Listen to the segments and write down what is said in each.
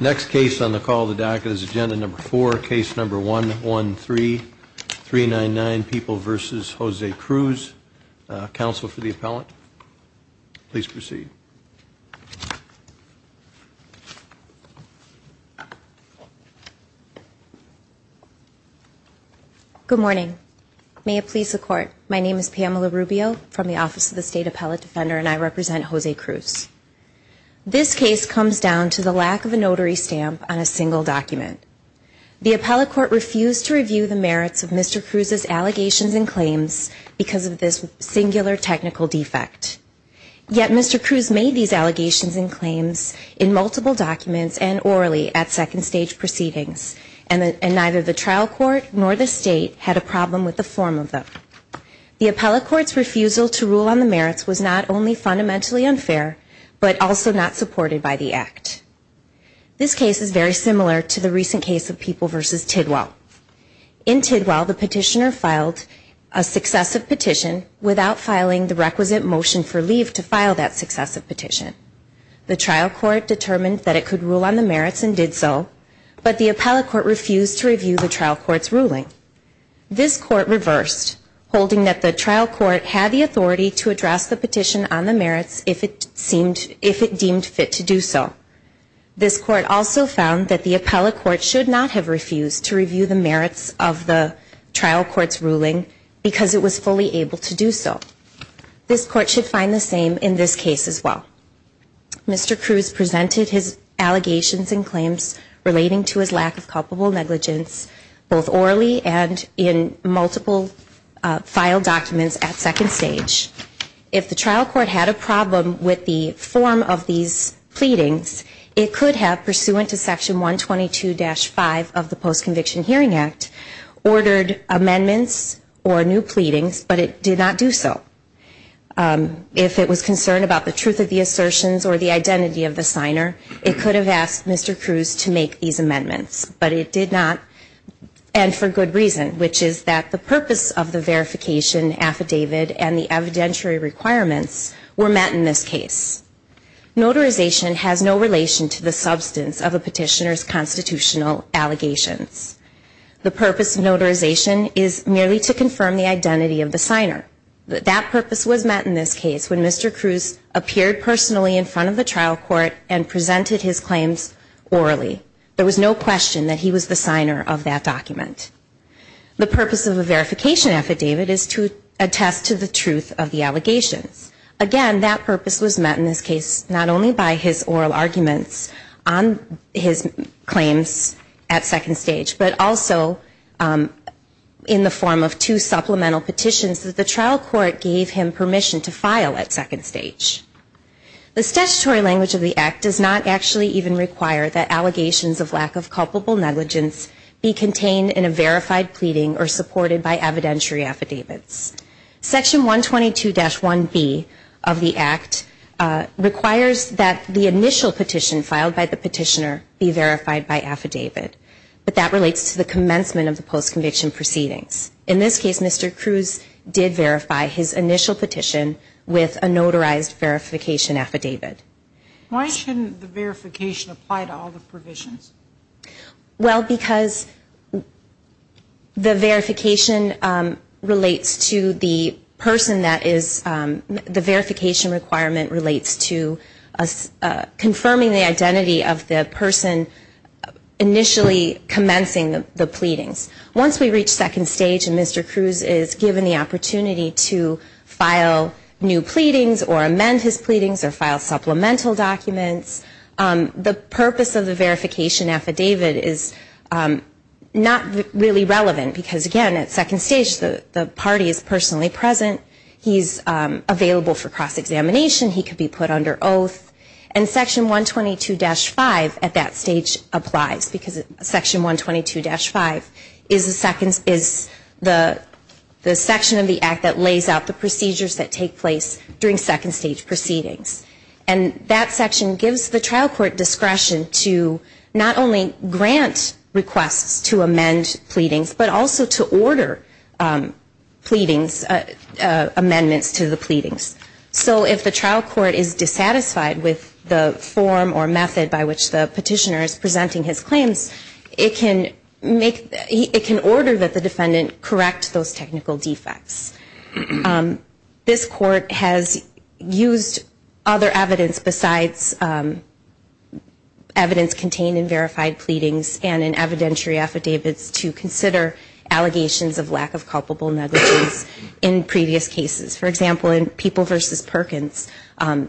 Next case on the call the docket is agenda number four case number one one three three nine nine people versus Jose Cruz counsel for the appellant Please proceed Good morning. May it please the court. My name is Pamela Rubio from the office of the state appellate defender, and I represent Jose Cruz This case comes down to the lack of a notary stamp on a single document The appellate court refused to review the merits of mr. Cruz's allegations and claims because of this singular technical defect Yet, mr. Cruz made these allegations and claims in multiple documents and orally at second stage proceedings and Neither the trial court nor the state had a problem with the form of them The appellate courts refusal to rule on the merits was not only fundamentally unfair, but also not supported by the act This case is very similar to the recent case of people versus Tidwell in Tidwell the petitioner filed a Successive petition without filing the requisite motion for leave to file that successive petition The trial court determined that it could rule on the merits and did so but the appellate court refused to review the trial courts ruling This court reversed Holding that the trial court had the authority to address the petition on the merits if it seemed if it deemed fit to do so This court also found that the appellate court should not have refused to review the merits of the trial courts ruling Because it was fully able to do so This court should find the same in this case as well Mr. Cruz presented his allegations and claims relating to his lack of culpable negligence Both orally and in multiple File documents at second stage if the trial court had a problem with the form of these Pleadings it could have pursuant to section 122 dash 5 of the post-conviction hearing act Ordered amendments or new pleadings, but it did not do so If it was concerned about the truth of the assertions or the identity of the signer it could have asked mr. Cruz to make these amendments, but it did not And for good reason which is that the purpose of the verification affidavit and the evidentiary requirements were met in this case Notarization has no relation to the substance of a petitioner's constitutional allegations The purpose of notarization is merely to confirm the identity of the signer that that purpose was met in this case when mr. Cruz appeared personally in front of the trial court and presented his claims Orally there was no question that he was the signer of that document The purpose of a verification affidavit is to attest to the truth of the allegations Again, that purpose was met in this case. Not only by his oral arguments on his claims at second stage, but also In the form of two supplemental petitions that the trial court gave him permission to file at second stage The statutory language of the act does not actually even require that allegations of lack of culpable negligence Be contained in a verified pleading or supported by evidentiary affidavits section 122 dash 1b of the act Requires that the initial petition filed by the petitioner be verified by affidavit But that relates to the commencement of the post conviction proceedings in this case. Mr Cruz did verify his initial petition with a notarized verification affidavit Why shouldn't the verification apply to all the provisions? well because The verification relates to the person that is the verification requirement relates to us Confirming the identity of the person Initially commencing the pleadings once we reach second stage and mr. Cruz is given the opportunity to file new pleadings or amend his pleadings or file supplemental documents the purpose of the verification affidavit is Not really relevant because again at second stage. The the party is personally present. He's Under oath and section 122 dash 5 at that stage applies because section 122 dash 5 is a second is the the section of the act that lays out the procedures that take place during second stage proceedings and That section gives the trial court discretion to not only grant requests to amend pleadings But also to order pleadings Amendments to the pleadings So if the trial court is dissatisfied with the form or method by which the petitioner is presenting his claims It can make it can order that the defendant correct those technical defects This court has used other evidence besides Evidence contained in verified pleadings and in evidentiary affidavits to consider Allegations of lack of culpable negligence in previous cases for example in people versus Perkins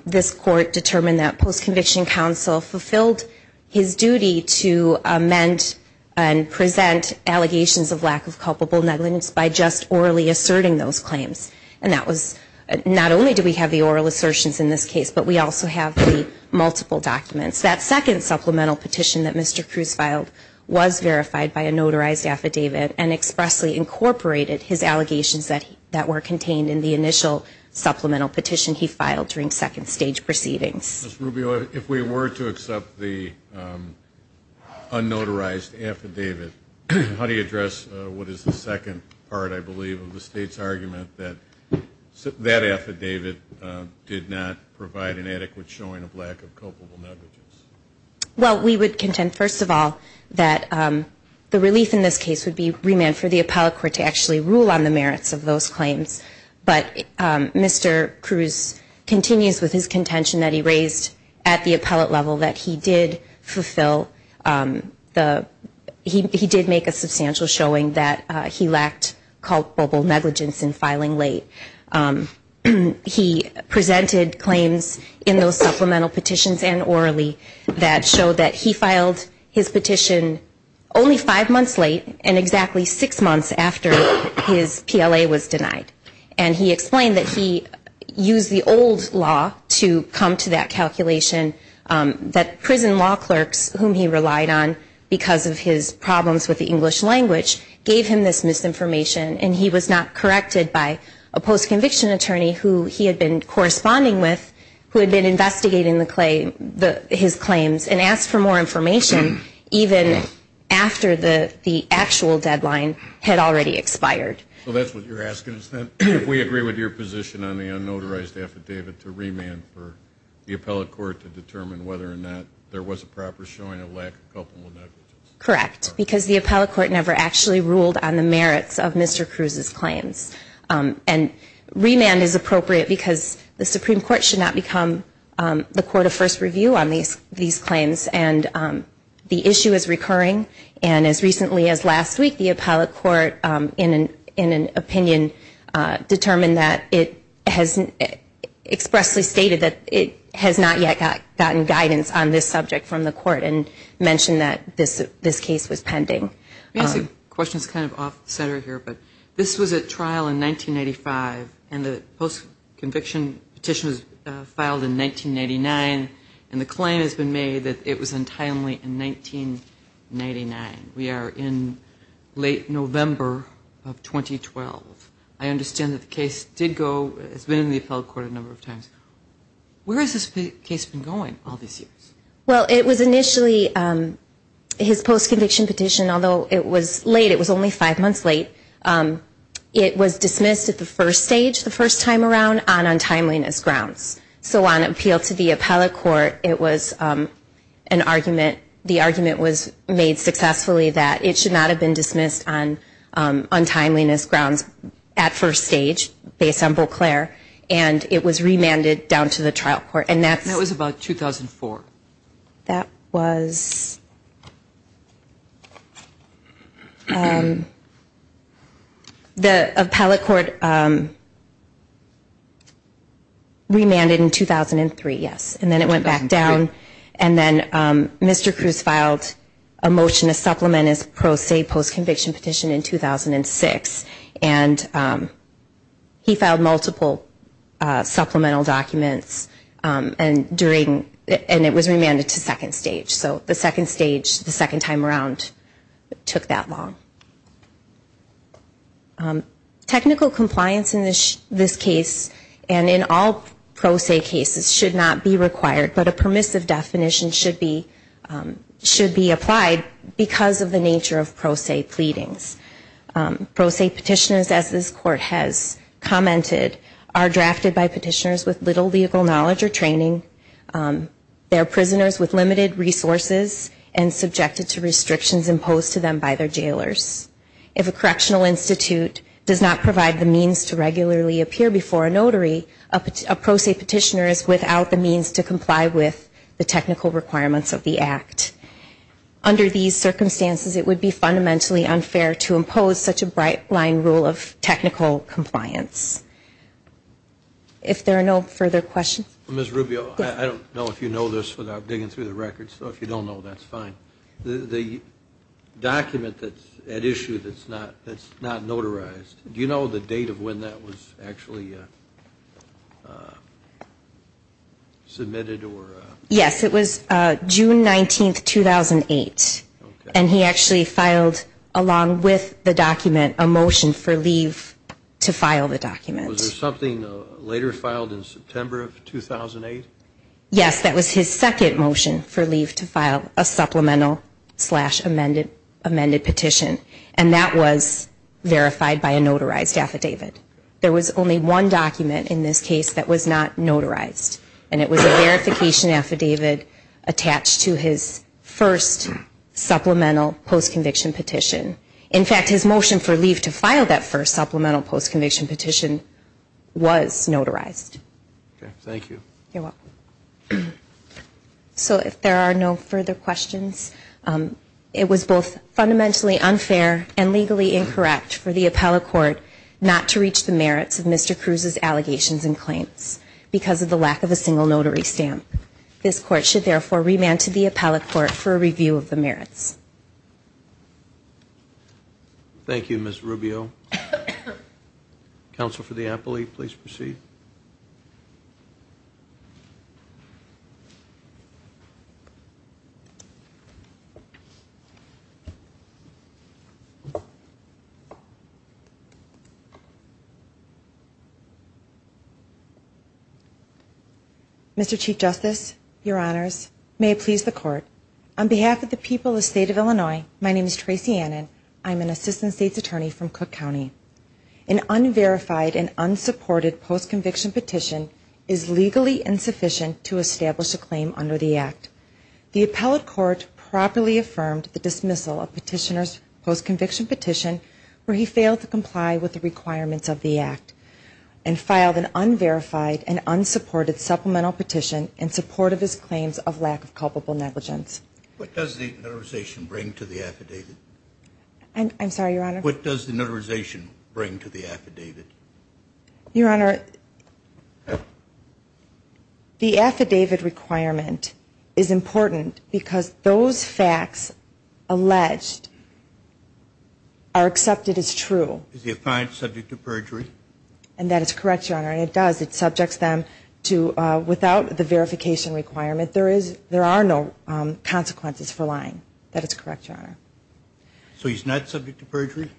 this court determined that post-conviction counsel fulfilled his duty to amend and present Allegations of lack of culpable negligence by just orally asserting those claims and that was Not only do we have the oral assertions in this case, but we also have the multiple documents that second supplemental petition that mr Cruz filed was verified by a notarized affidavit and expressly incorporated his allegations that that were contained in the initial Supplemental petition he filed during second stage proceedings if we were to accept the Unnotarized affidavit, how do you address? What is the second part? I believe of the state's argument that That affidavit did not provide an adequate showing of lack of culpable negligence Well, we would contend first of all that The relief in this case would be remand for the appellate court to actually rule on the merits of those claims, but mr Cruz Continues with his contention that he raised at the appellate level that he did fulfill The he did make a substantial showing that he lacked culpable negligence in filing late He Presented claims in those supplemental petitions and orally that showed that he filed his petition only five months late and exactly six months after his PLA was denied and he explained that he Used the old law to come to that calculation That prison law clerks whom he relied on because of his problems with the English language Gave him this misinformation and he was not corrected by a post-conviction attorney who he had been Corresponding with who had been investigating the claim the his claims and asked for more information Even after the the actual deadline had already expired So that's what you're asking is that if we agree with your position on the unnotarized affidavit to remand for? The appellate court to determine whether or not there was a proper showing of lack of culpable negligence Correct because the appellate court never actually ruled on the merits of mr. Cruz's claims and Remand is appropriate because the Supreme Court should not become the court of first review on these these claims and The issue is recurring and as recently as last week the appellate court in an in an opinion determined that it has Expressly stated that it has not yet got gotten guidance on this subject from the court and Mentioned that this this case was pending Questions kind of off-center here, but this was a trial in 1995 and the post-conviction petition was filed in 1999 and the claim has been made that it was untimely in 1999 we are in November of 2012 I understand that the case did go it's been in the appellate court a number of times Where is this case been going all these years? Well it was initially? His post-conviction petition although it was late. It was only five months late It was dismissed at the first stage the first time around on untimeliness grounds so on appeal to the appellate court it was An argument the argument was made successfully that it should not have been dismissed on untimeliness grounds at first stage based on Beauclair And it was remanded down to the trial court, and that's that was about 2004 that was The appellate court Remanded in 2003 yes, and then it went back down and then Mr.. Cruz filed a motion to supplement his pro se post-conviction petition in 2006 and He filed multiple Supplemental documents and during and it was remanded to second stage, so the second stage the second time around took that long Um Technical compliance in this this case and in all pro se cases should not be required, but a permissive definition should be Should be applied because of the nature of pro se pleadings Pro se petitioners as this court has Commented are drafted by petitioners with little legal knowledge or training They're prisoners with limited resources and subjected to restrictions imposed to them by their jailors if a correctional Institute does not provide the means to regularly appear before a notary a Pro se petitioner is without the means to comply with the technical requirements of the act Under these circumstances it would be fundamentally unfair to impose such a bright-line rule of technical compliance If there are no further questions miss Rubio, I don't know if you know this without digging through the records so if you don't know that's fine the Document that's at issue. That's not that's not notarized. Do you know the date of when that was actually? Submitted or yes, it was June 19th 2008 and he actually filed along with the document a motion for leave To file the documents something later filed in September of 2008 Yes, that was his second motion for leave to file a supplemental amended amended petition and that was Verified by a notarized affidavit. There was only one document in this case that was not notarized and it was a verification affidavit attached to his first Supplemental post conviction petition in fact his motion for leave to file that first supplemental post conviction petition Was notarized? Thank you So if there are no further questions It was both fundamentally unfair and legally incorrect for the appellate court not to reach the merits of mr. Cruz's allegations and claims because of the lack of a single notary stamp This court should therefore remand to the appellate court for a review of the merits Thank You miss Rubio Counsel for the appellate please proceed I Mr. Chief Justice your honors may it please the court on behalf of the people the state of Illinois. My name is Tracy Annan I'm an assistant state's attorney from Cook County an Unverified and unsupported post conviction petition is legally insufficient to establish a claim under the act the appellate court properly affirmed the dismissal of petitioners post conviction petition where he failed to comply with the requirements of the act and Filed an unverified and unsupported supplemental petition in support of his claims of lack of culpable negligence What does the notarization bring to the affidavit? And I'm sorry your honor, what does the notarization bring to the affidavit your honor The affidavit requirement is important because those facts alleged Are accepted as true if you find subject to perjury and that is correct your honor And it does it subjects them to without the verification requirement. There is there are no Consequences for lying that it's correct your honor So he's not subject to perjury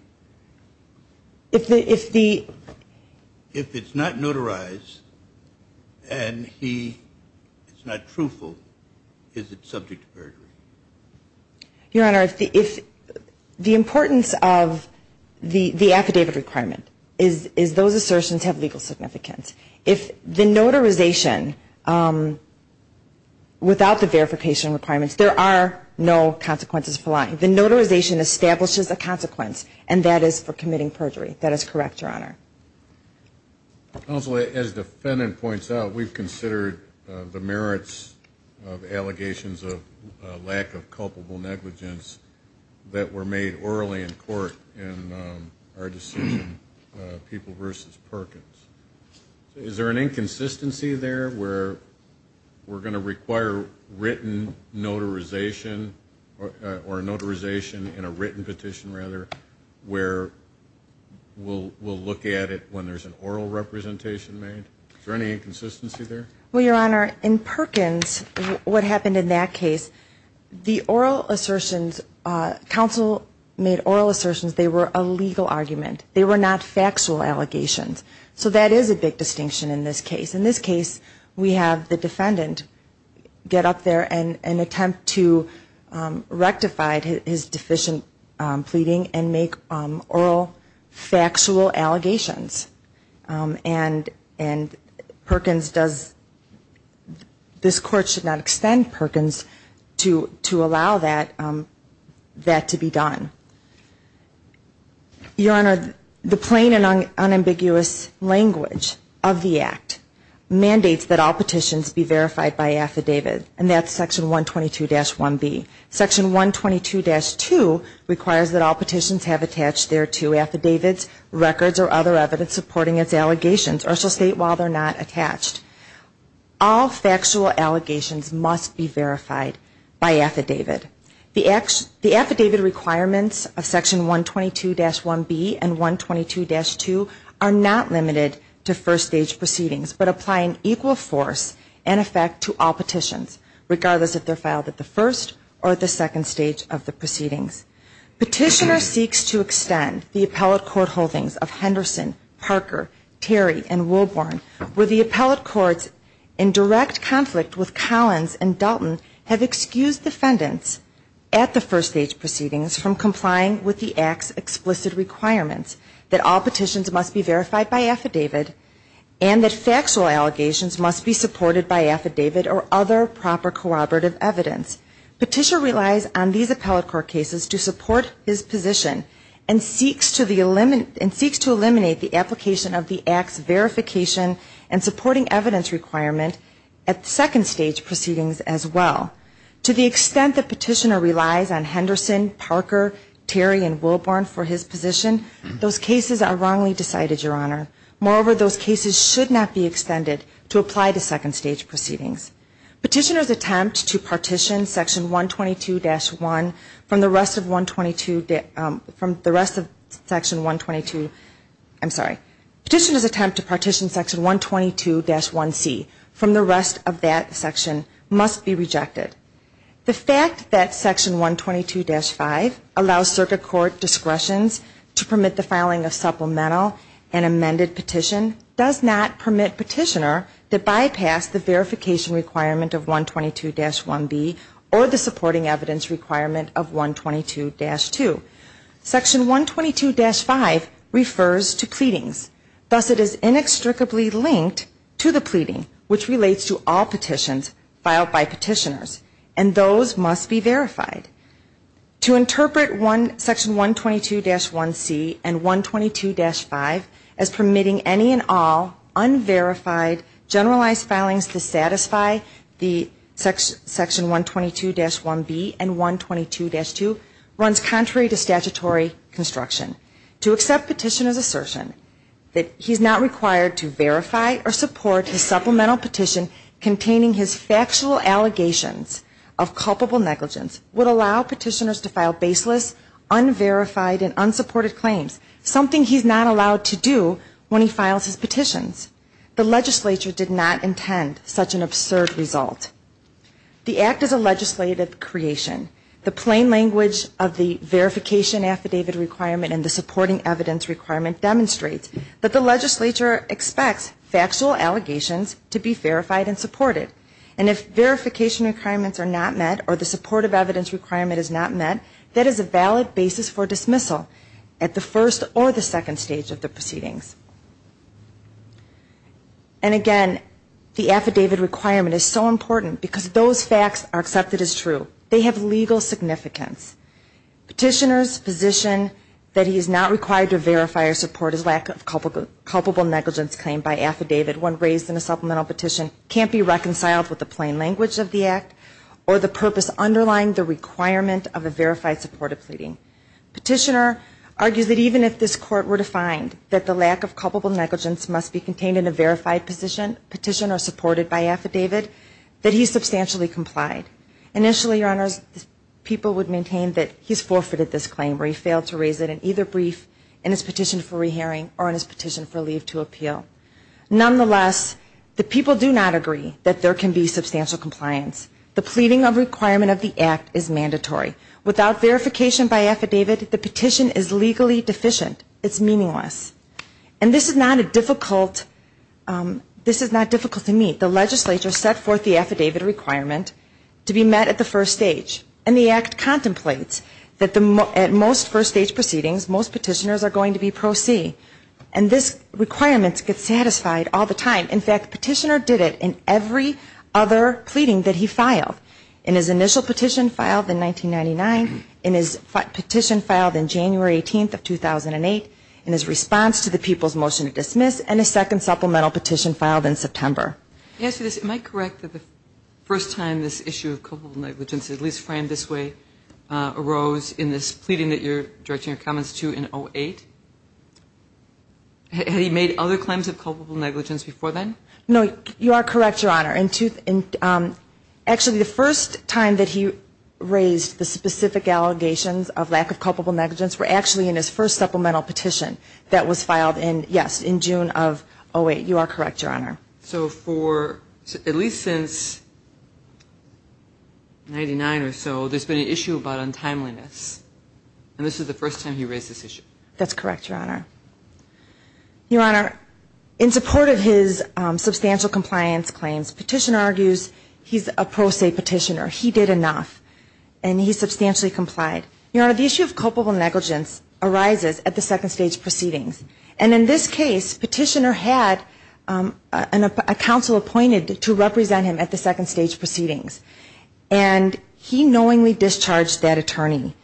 if the if the if it's not notarized and He it's not truthful. Is it subject to perjury? your honor if the if the importance of The the affidavit requirement is is those assertions have legal significance if the notarization Without the verification requirements, there are no consequences for lying the notarization establishes a consequence And that is for committing perjury. That is correct your honor Also as defendant points out we've considered the merits of allegations of lack of culpable negligence That were made orally in court and our decision people versus Perkins Is there an inconsistency there where We're going to require written Notarization or a notarization in a written petition rather where? We'll we'll look at it when there's an oral representation made for any inconsistency there well your honor in Perkins What happened in that case? the oral assertions Council made oral assertions. They were a legal argument. They were not factual allegations So that is a big distinction in this case in this case. We have the defendant get up there and an attempt to Rectify his deficient pleading and make oral factual allegations and and Perkins does This court should not extend Perkins to to allow that to be done Your honor the plain and unambiguous language of the Act Mandates that all petitions be verified by affidavit and that's section 122 dash 1b section 122 dash 2 requires that all petitions have attached there to affidavits Records or other evidence supporting its allegations or so state while they're not attached All factual allegations must be verified by affidavit the acts the affidavit requirements of section 122 dash 1b and 122 dash 2 are not limited to first stage proceedings But applying equal force and effect to all petitions regardless if they're filed at the first or the second stage of the proceedings Petitioner seeks to extend the appellate court holdings of Henderson Parker Terry and Wilborn where the appellate courts in direct conflict with Collins and Dalton have excused defendants at the first stage proceedings from complying with the acts explicit requirements that all petitions must be verified by affidavit and That factual allegations must be supported by affidavit or other proper corroborative evidence petitioner relies on these appellate court cases to support his position and supporting evidence requirement at Second stage proceedings as well to the extent that petitioner relies on Henderson Parker Terry and Wilborn for his position those cases are wrongly decided your honor Moreover those cases should not be extended to apply to second stage proceedings petitioners attempt to partition section 122 dash 1 from the rest of 122 from the rest of Section 122. I'm sorry petitioners attempt to partition section 122 dash 1c from the rest of that section must be rejected the fact that section 122 dash 5 allows circuit court discretions to permit the filing of supplemental and amended petition does not permit petitioner to bypass the verification requirement of 122 dash 1b or the supporting evidence requirement of 122 dash 2 Section 122 dash 5 refers to pleadings Thus it is inextricably linked to the pleading which relates to all petitions filed by petitioners and those must be verified to interpret one section 122 dash 1c and 122 dash 5 as permitting any and all unverified generalized filings to satisfy the Section 122 dash 1b and 122 dash 2 runs contrary to statutory Construction to accept petitioners assertion that he's not required to verify or support his supplemental petition containing his factual allegations of culpable negligence would allow petitioners to file baseless Unverified and unsupported claims something he's not allowed to do when he files his petitions The legislature did not intend such an absurd result The act is a legislative creation the plain language of the verification Affidavit requirement and the supporting evidence requirement demonstrates that the legislature expects factual allegations to be verified and supported and if Verification requirements are not met or the supportive evidence requirement is not met that is a valid basis for dismissal at the first or the second stage of the proceedings and The affidavit requirement is so important because those facts are accepted as true they have legal significance petitioners position that he is not required to verify or support his lack of culpable negligence claim by affidavit when raised in a supplemental petition can't be reconciled with the plain language of the act or the Purpose underlying the requirement of a verified supportive pleading Petitioner argues that even if this court were to find that the lack of culpable negligence must be contained in a verified position Petitioner supported by affidavit that he's substantially complied Initially your honors People would maintain that he's forfeited this claim where he failed to raise it in either brief in his petition for rehearing or in his petition for leave to appeal Nonetheless, the people do not agree that there can be substantial compliance The pleading of requirement of the act is mandatory without verification by affidavit. The petition is legally deficient It's meaningless and this is not a difficult This is not difficult to meet the legislature set forth the affidavit requirement To be met at the first stage and the act contemplates that the most first stage proceedings Most petitioners are going to be pro-see and this requirements get satisfied all the time Petitioner did it in every other Pleading that he filed in his initial petition filed in 1999 in his petition filed in January 18th of 2008 in his response to the people's motion to dismiss and a second supplemental petition filed in September Yes, it might correct that the first time this issue of culpable negligence at least framed this way Arose in this pleading that you're directing your comments to in 08 And he made other claims of culpable negligence before then no, you are correct your honor in tooth and Actually the first time that he raised the specific Allegations of lack of culpable negligence were actually in his first supplemental petition that was filed in yes in June of oh wait You are correct your honor. So for at least since Ninety nine or so there's been an issue about untimeliness and this is the first time he raised this issue. That's correct. Your honor Your honor in support of his substantial compliance claims petitioner argues. He's a pro se petitioner He did enough and he substantially complied your honor the issue of culpable negligence Arises at the second stage proceedings and in this case petitioner had And a council appointed to represent him at the second stage proceedings and He knowingly discharged that attorney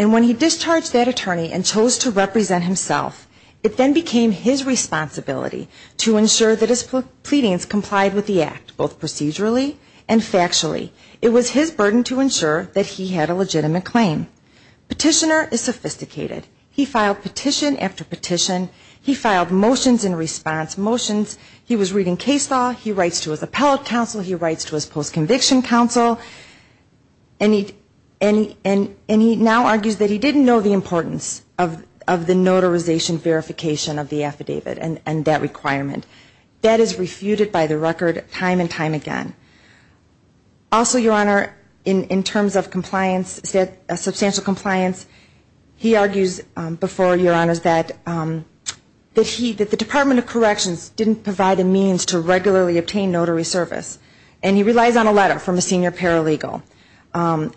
and when he discharged that attorney and chose to represent himself it then became his responsibility to ensure that his Pleadings complied with the act both procedurally and factually it was his burden to ensure that he had a legitimate claim Petitioner is sophisticated. He filed petition after petition He filed motions in response motions, he was reading case law. He writes to his appellate counsel. He writes to his post-conviction counsel and He'd any and and he now argues that he didn't know the importance of of the notarization Verification of the affidavit and and that requirement that is refuted by the record time and time again Also your honor in in terms of compliance said a substantial compliance He argues before your honors that that he that the Department of Corrections didn't provide a means to regularly obtain notary service and he relies on a letter from a senior paralegal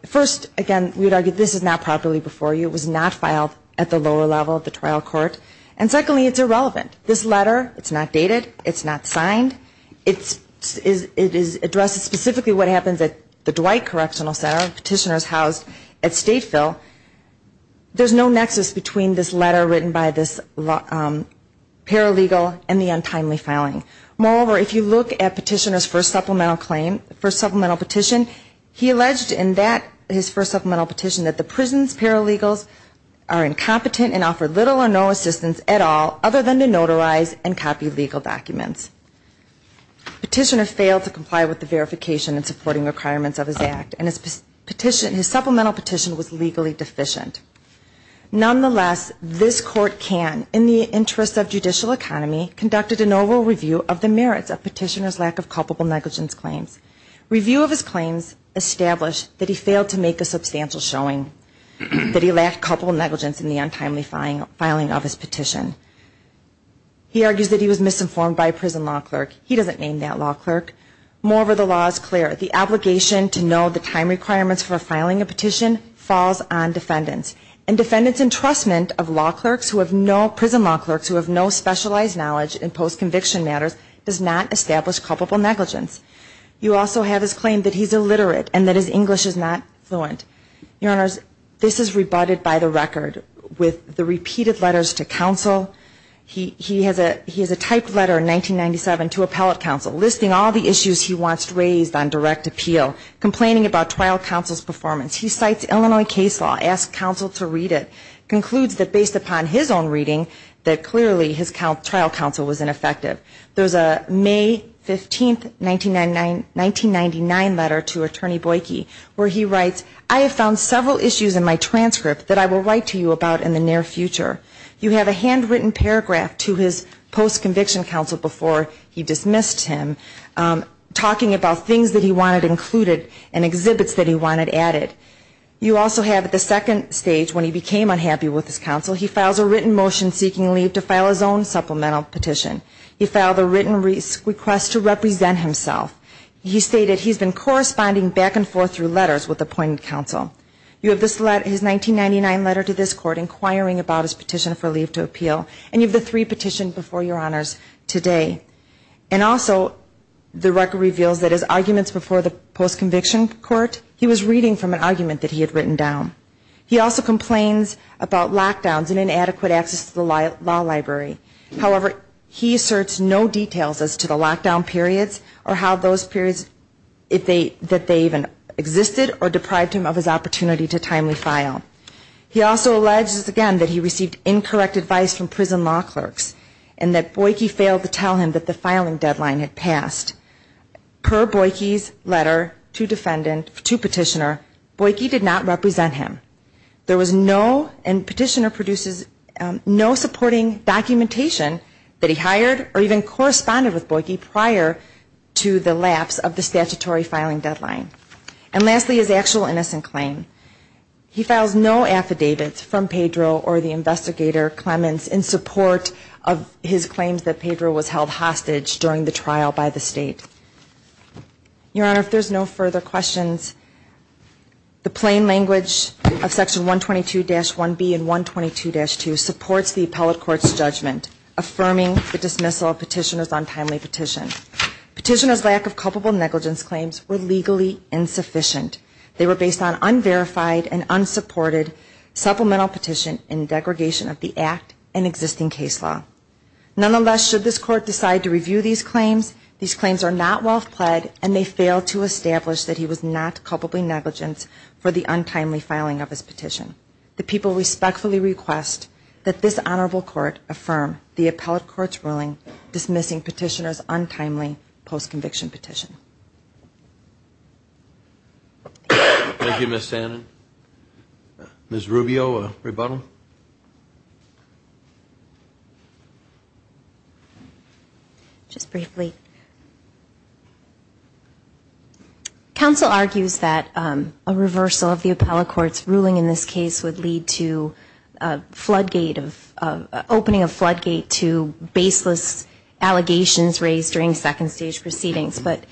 First again, we'd argue this is not properly before you it was not filed at the lower level of the trial court And secondly, it's irrelevant this letter. It's not dated. It's not signed It's is it is addressed specifically what happens at the Dwight Correctional Center petitioners housed at Stateville There's no nexus between this letter written by this Paralegal and the untimely filing moreover if you look at petitioners for supplemental claim for supplemental petition He alleged in that his first supplemental petition that the prison's paralegals are Incompetent and offer little or no assistance at all other than to notarize and copy legal documents Petitioner failed to comply with the verification and supporting requirements of his act and his petition his supplemental petition was legally deficient Nonetheless, this court can in the interest of judicial economy conducted a novel review of the merits of petitioners lack of culpable negligence claims review of his claims Established that he failed to make a substantial showing That he lacked couple negligence in the untimely filing filing of his petition He argues that he was misinformed by a prison law clerk He doesn't name that law clerk moreover the law is clear the obligation to know the time requirements for filing a petition falls on defendants and Defendants entrustment of law clerks who have no prison law clerks who have no specialized knowledge in post-conviction matters does not establish Culpable negligence you also have his claim that he's illiterate and that his English is not fluent Your honors this is rebutted by the record with the repeated letters to counsel He he has a he has a typed letter in 1997 to appellate counsel listing all the issues He wants raised on direct appeal complaining about trial counsel's performance He cites, Illinois case law asked counsel to read it Concludes that based upon his own reading that clearly his count trial counsel was ineffective. There's a May 15th 1999 1999 letter to attorney Boyke where he writes I have found several issues in my transcript that I will write to you about in the near future You have a handwritten paragraph to his post-conviction counsel before he dismissed him Talking about things that he wanted included and exhibits that he wanted added You also have at the second stage when he became unhappy with his counsel He files a written motion seeking leave to file his own supplemental petition He filed a written risk request to represent himself He stated he's been corresponding back and forth through letters with appointed counsel You have this letter his 1999 letter to this court inquiring about his petition for leave to appeal and you've the three petition before your honors today and Also the record reveals that his arguments before the post-conviction court He was reading from an argument that he had written down He also complains about lockdowns and inadequate access to the law library However, he asserts no details as to the lockdown periods or how those periods if they that they even Existed or deprived him of his opportunity to timely file He also alleges again that he received incorrect advice from prison law clerks and that Boyke failed to tell him that the filing deadline had passed Per Boyke's letter to defendant to petitioner Boyke did not represent him There was no and petitioner produces no supporting documentation That he hired or even corresponded with Boyke prior to the lapse of the statutory filing deadline And lastly his actual innocent claim he files no affidavits from Pedro or the investigator Clemens in support of His claims that Pedro was held hostage during the trial by the state Your honor if there's no further questions The plain language of section 122 dash 1 B and 122 dash 2 supports the appellate courts judgment Affirming the dismissal of petitioners on timely petition Petitioners lack of culpable negligence claims were legally insufficient. They were based on unverified and unsupported Supplemental petition in degradation of the act and existing case law Nonetheless should this court decide to review these claims these claims are not wealth pled and they fail to establish that he was not culpably negligent for the untimely filing of his petition the people respectfully request that this honorable court affirm the appellate courts ruling dismissing petitioners untimely post-conviction petition Thank You miss Anna miss Rubio a rebuttal Just briefly Council argues that a reversal of the appellate courts ruling in this case would lead to floodgate of opening a floodgate to baseless Allegations raised during second stage proceedings, but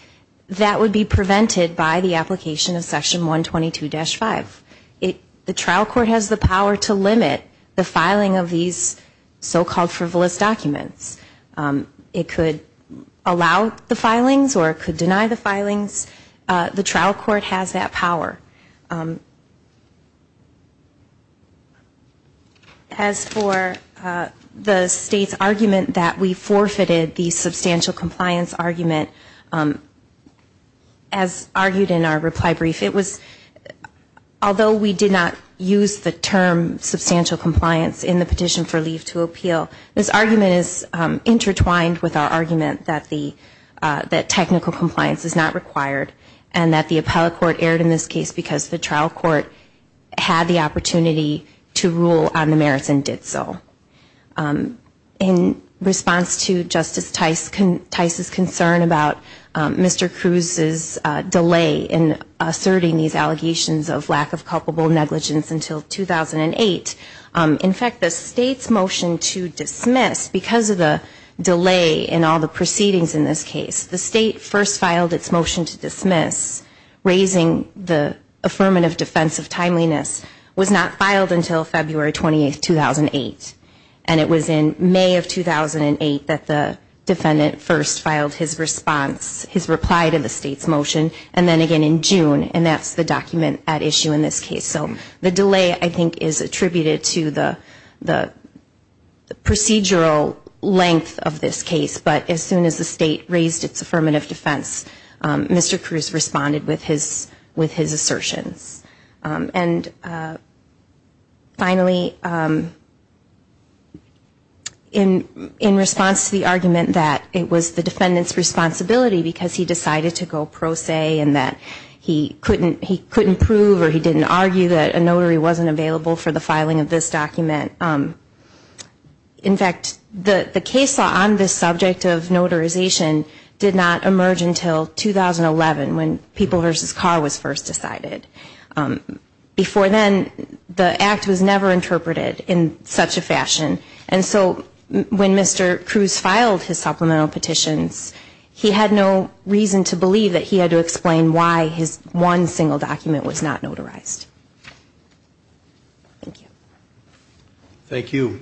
that would be prevented by the application of section 122 dash 5 It the trial court has the power to limit the filing of these so-called frivolous documents It could allow the filings or it could deny the filings the trial court has that power As for the state's argument that we forfeited the substantial compliance argument as argued in our reply brief it was Although we did not use the term substantial compliance in the petition for leave to appeal this argument is intertwined with our argument that the That technical compliance is not required and that the appellate court erred in this case because the trial court Had the opportunity to rule on the merits and did so in response to Justice Tice can Tice's concern about Mr. Cruz's delay in asserting these allegations of lack of culpable negligence until 2008 in fact the state's motion to dismiss because of the Delay in all the proceedings in this case the state first filed its motion to dismiss Raising the affirmative defense of timeliness was not filed until February 28 2008 And it was in May of 2008 that the defendant first filed his response His reply to the state's motion and then again in June and that's the document at issue in this case so the delay I think is attributed to the the Procedural length of this case, but as soon as the state raised its affirmative defense Mr. Cruz responded with his with his assertions and Finally In in response to the argument that it was the defendants responsibility because he decided to go pro se and that He couldn't he couldn't prove or he didn't argue that a notary wasn't available for the filing of this document in fact the the case on this subject of notarization did not emerge until 2011 when people versus car was first decided Before then the act was never interpreted in such a fashion and so When mr. Cruz filed his supplemental petitions He had no reason to believe that he had to explain why his one single document was not notarized Thank you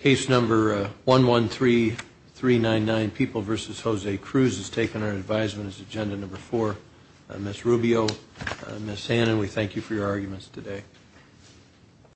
Case number one one three three nine nine people versus Jose Cruz has taken our advisement as agenda number four Miss Rubio miss Hannon. We thank you for your arguments today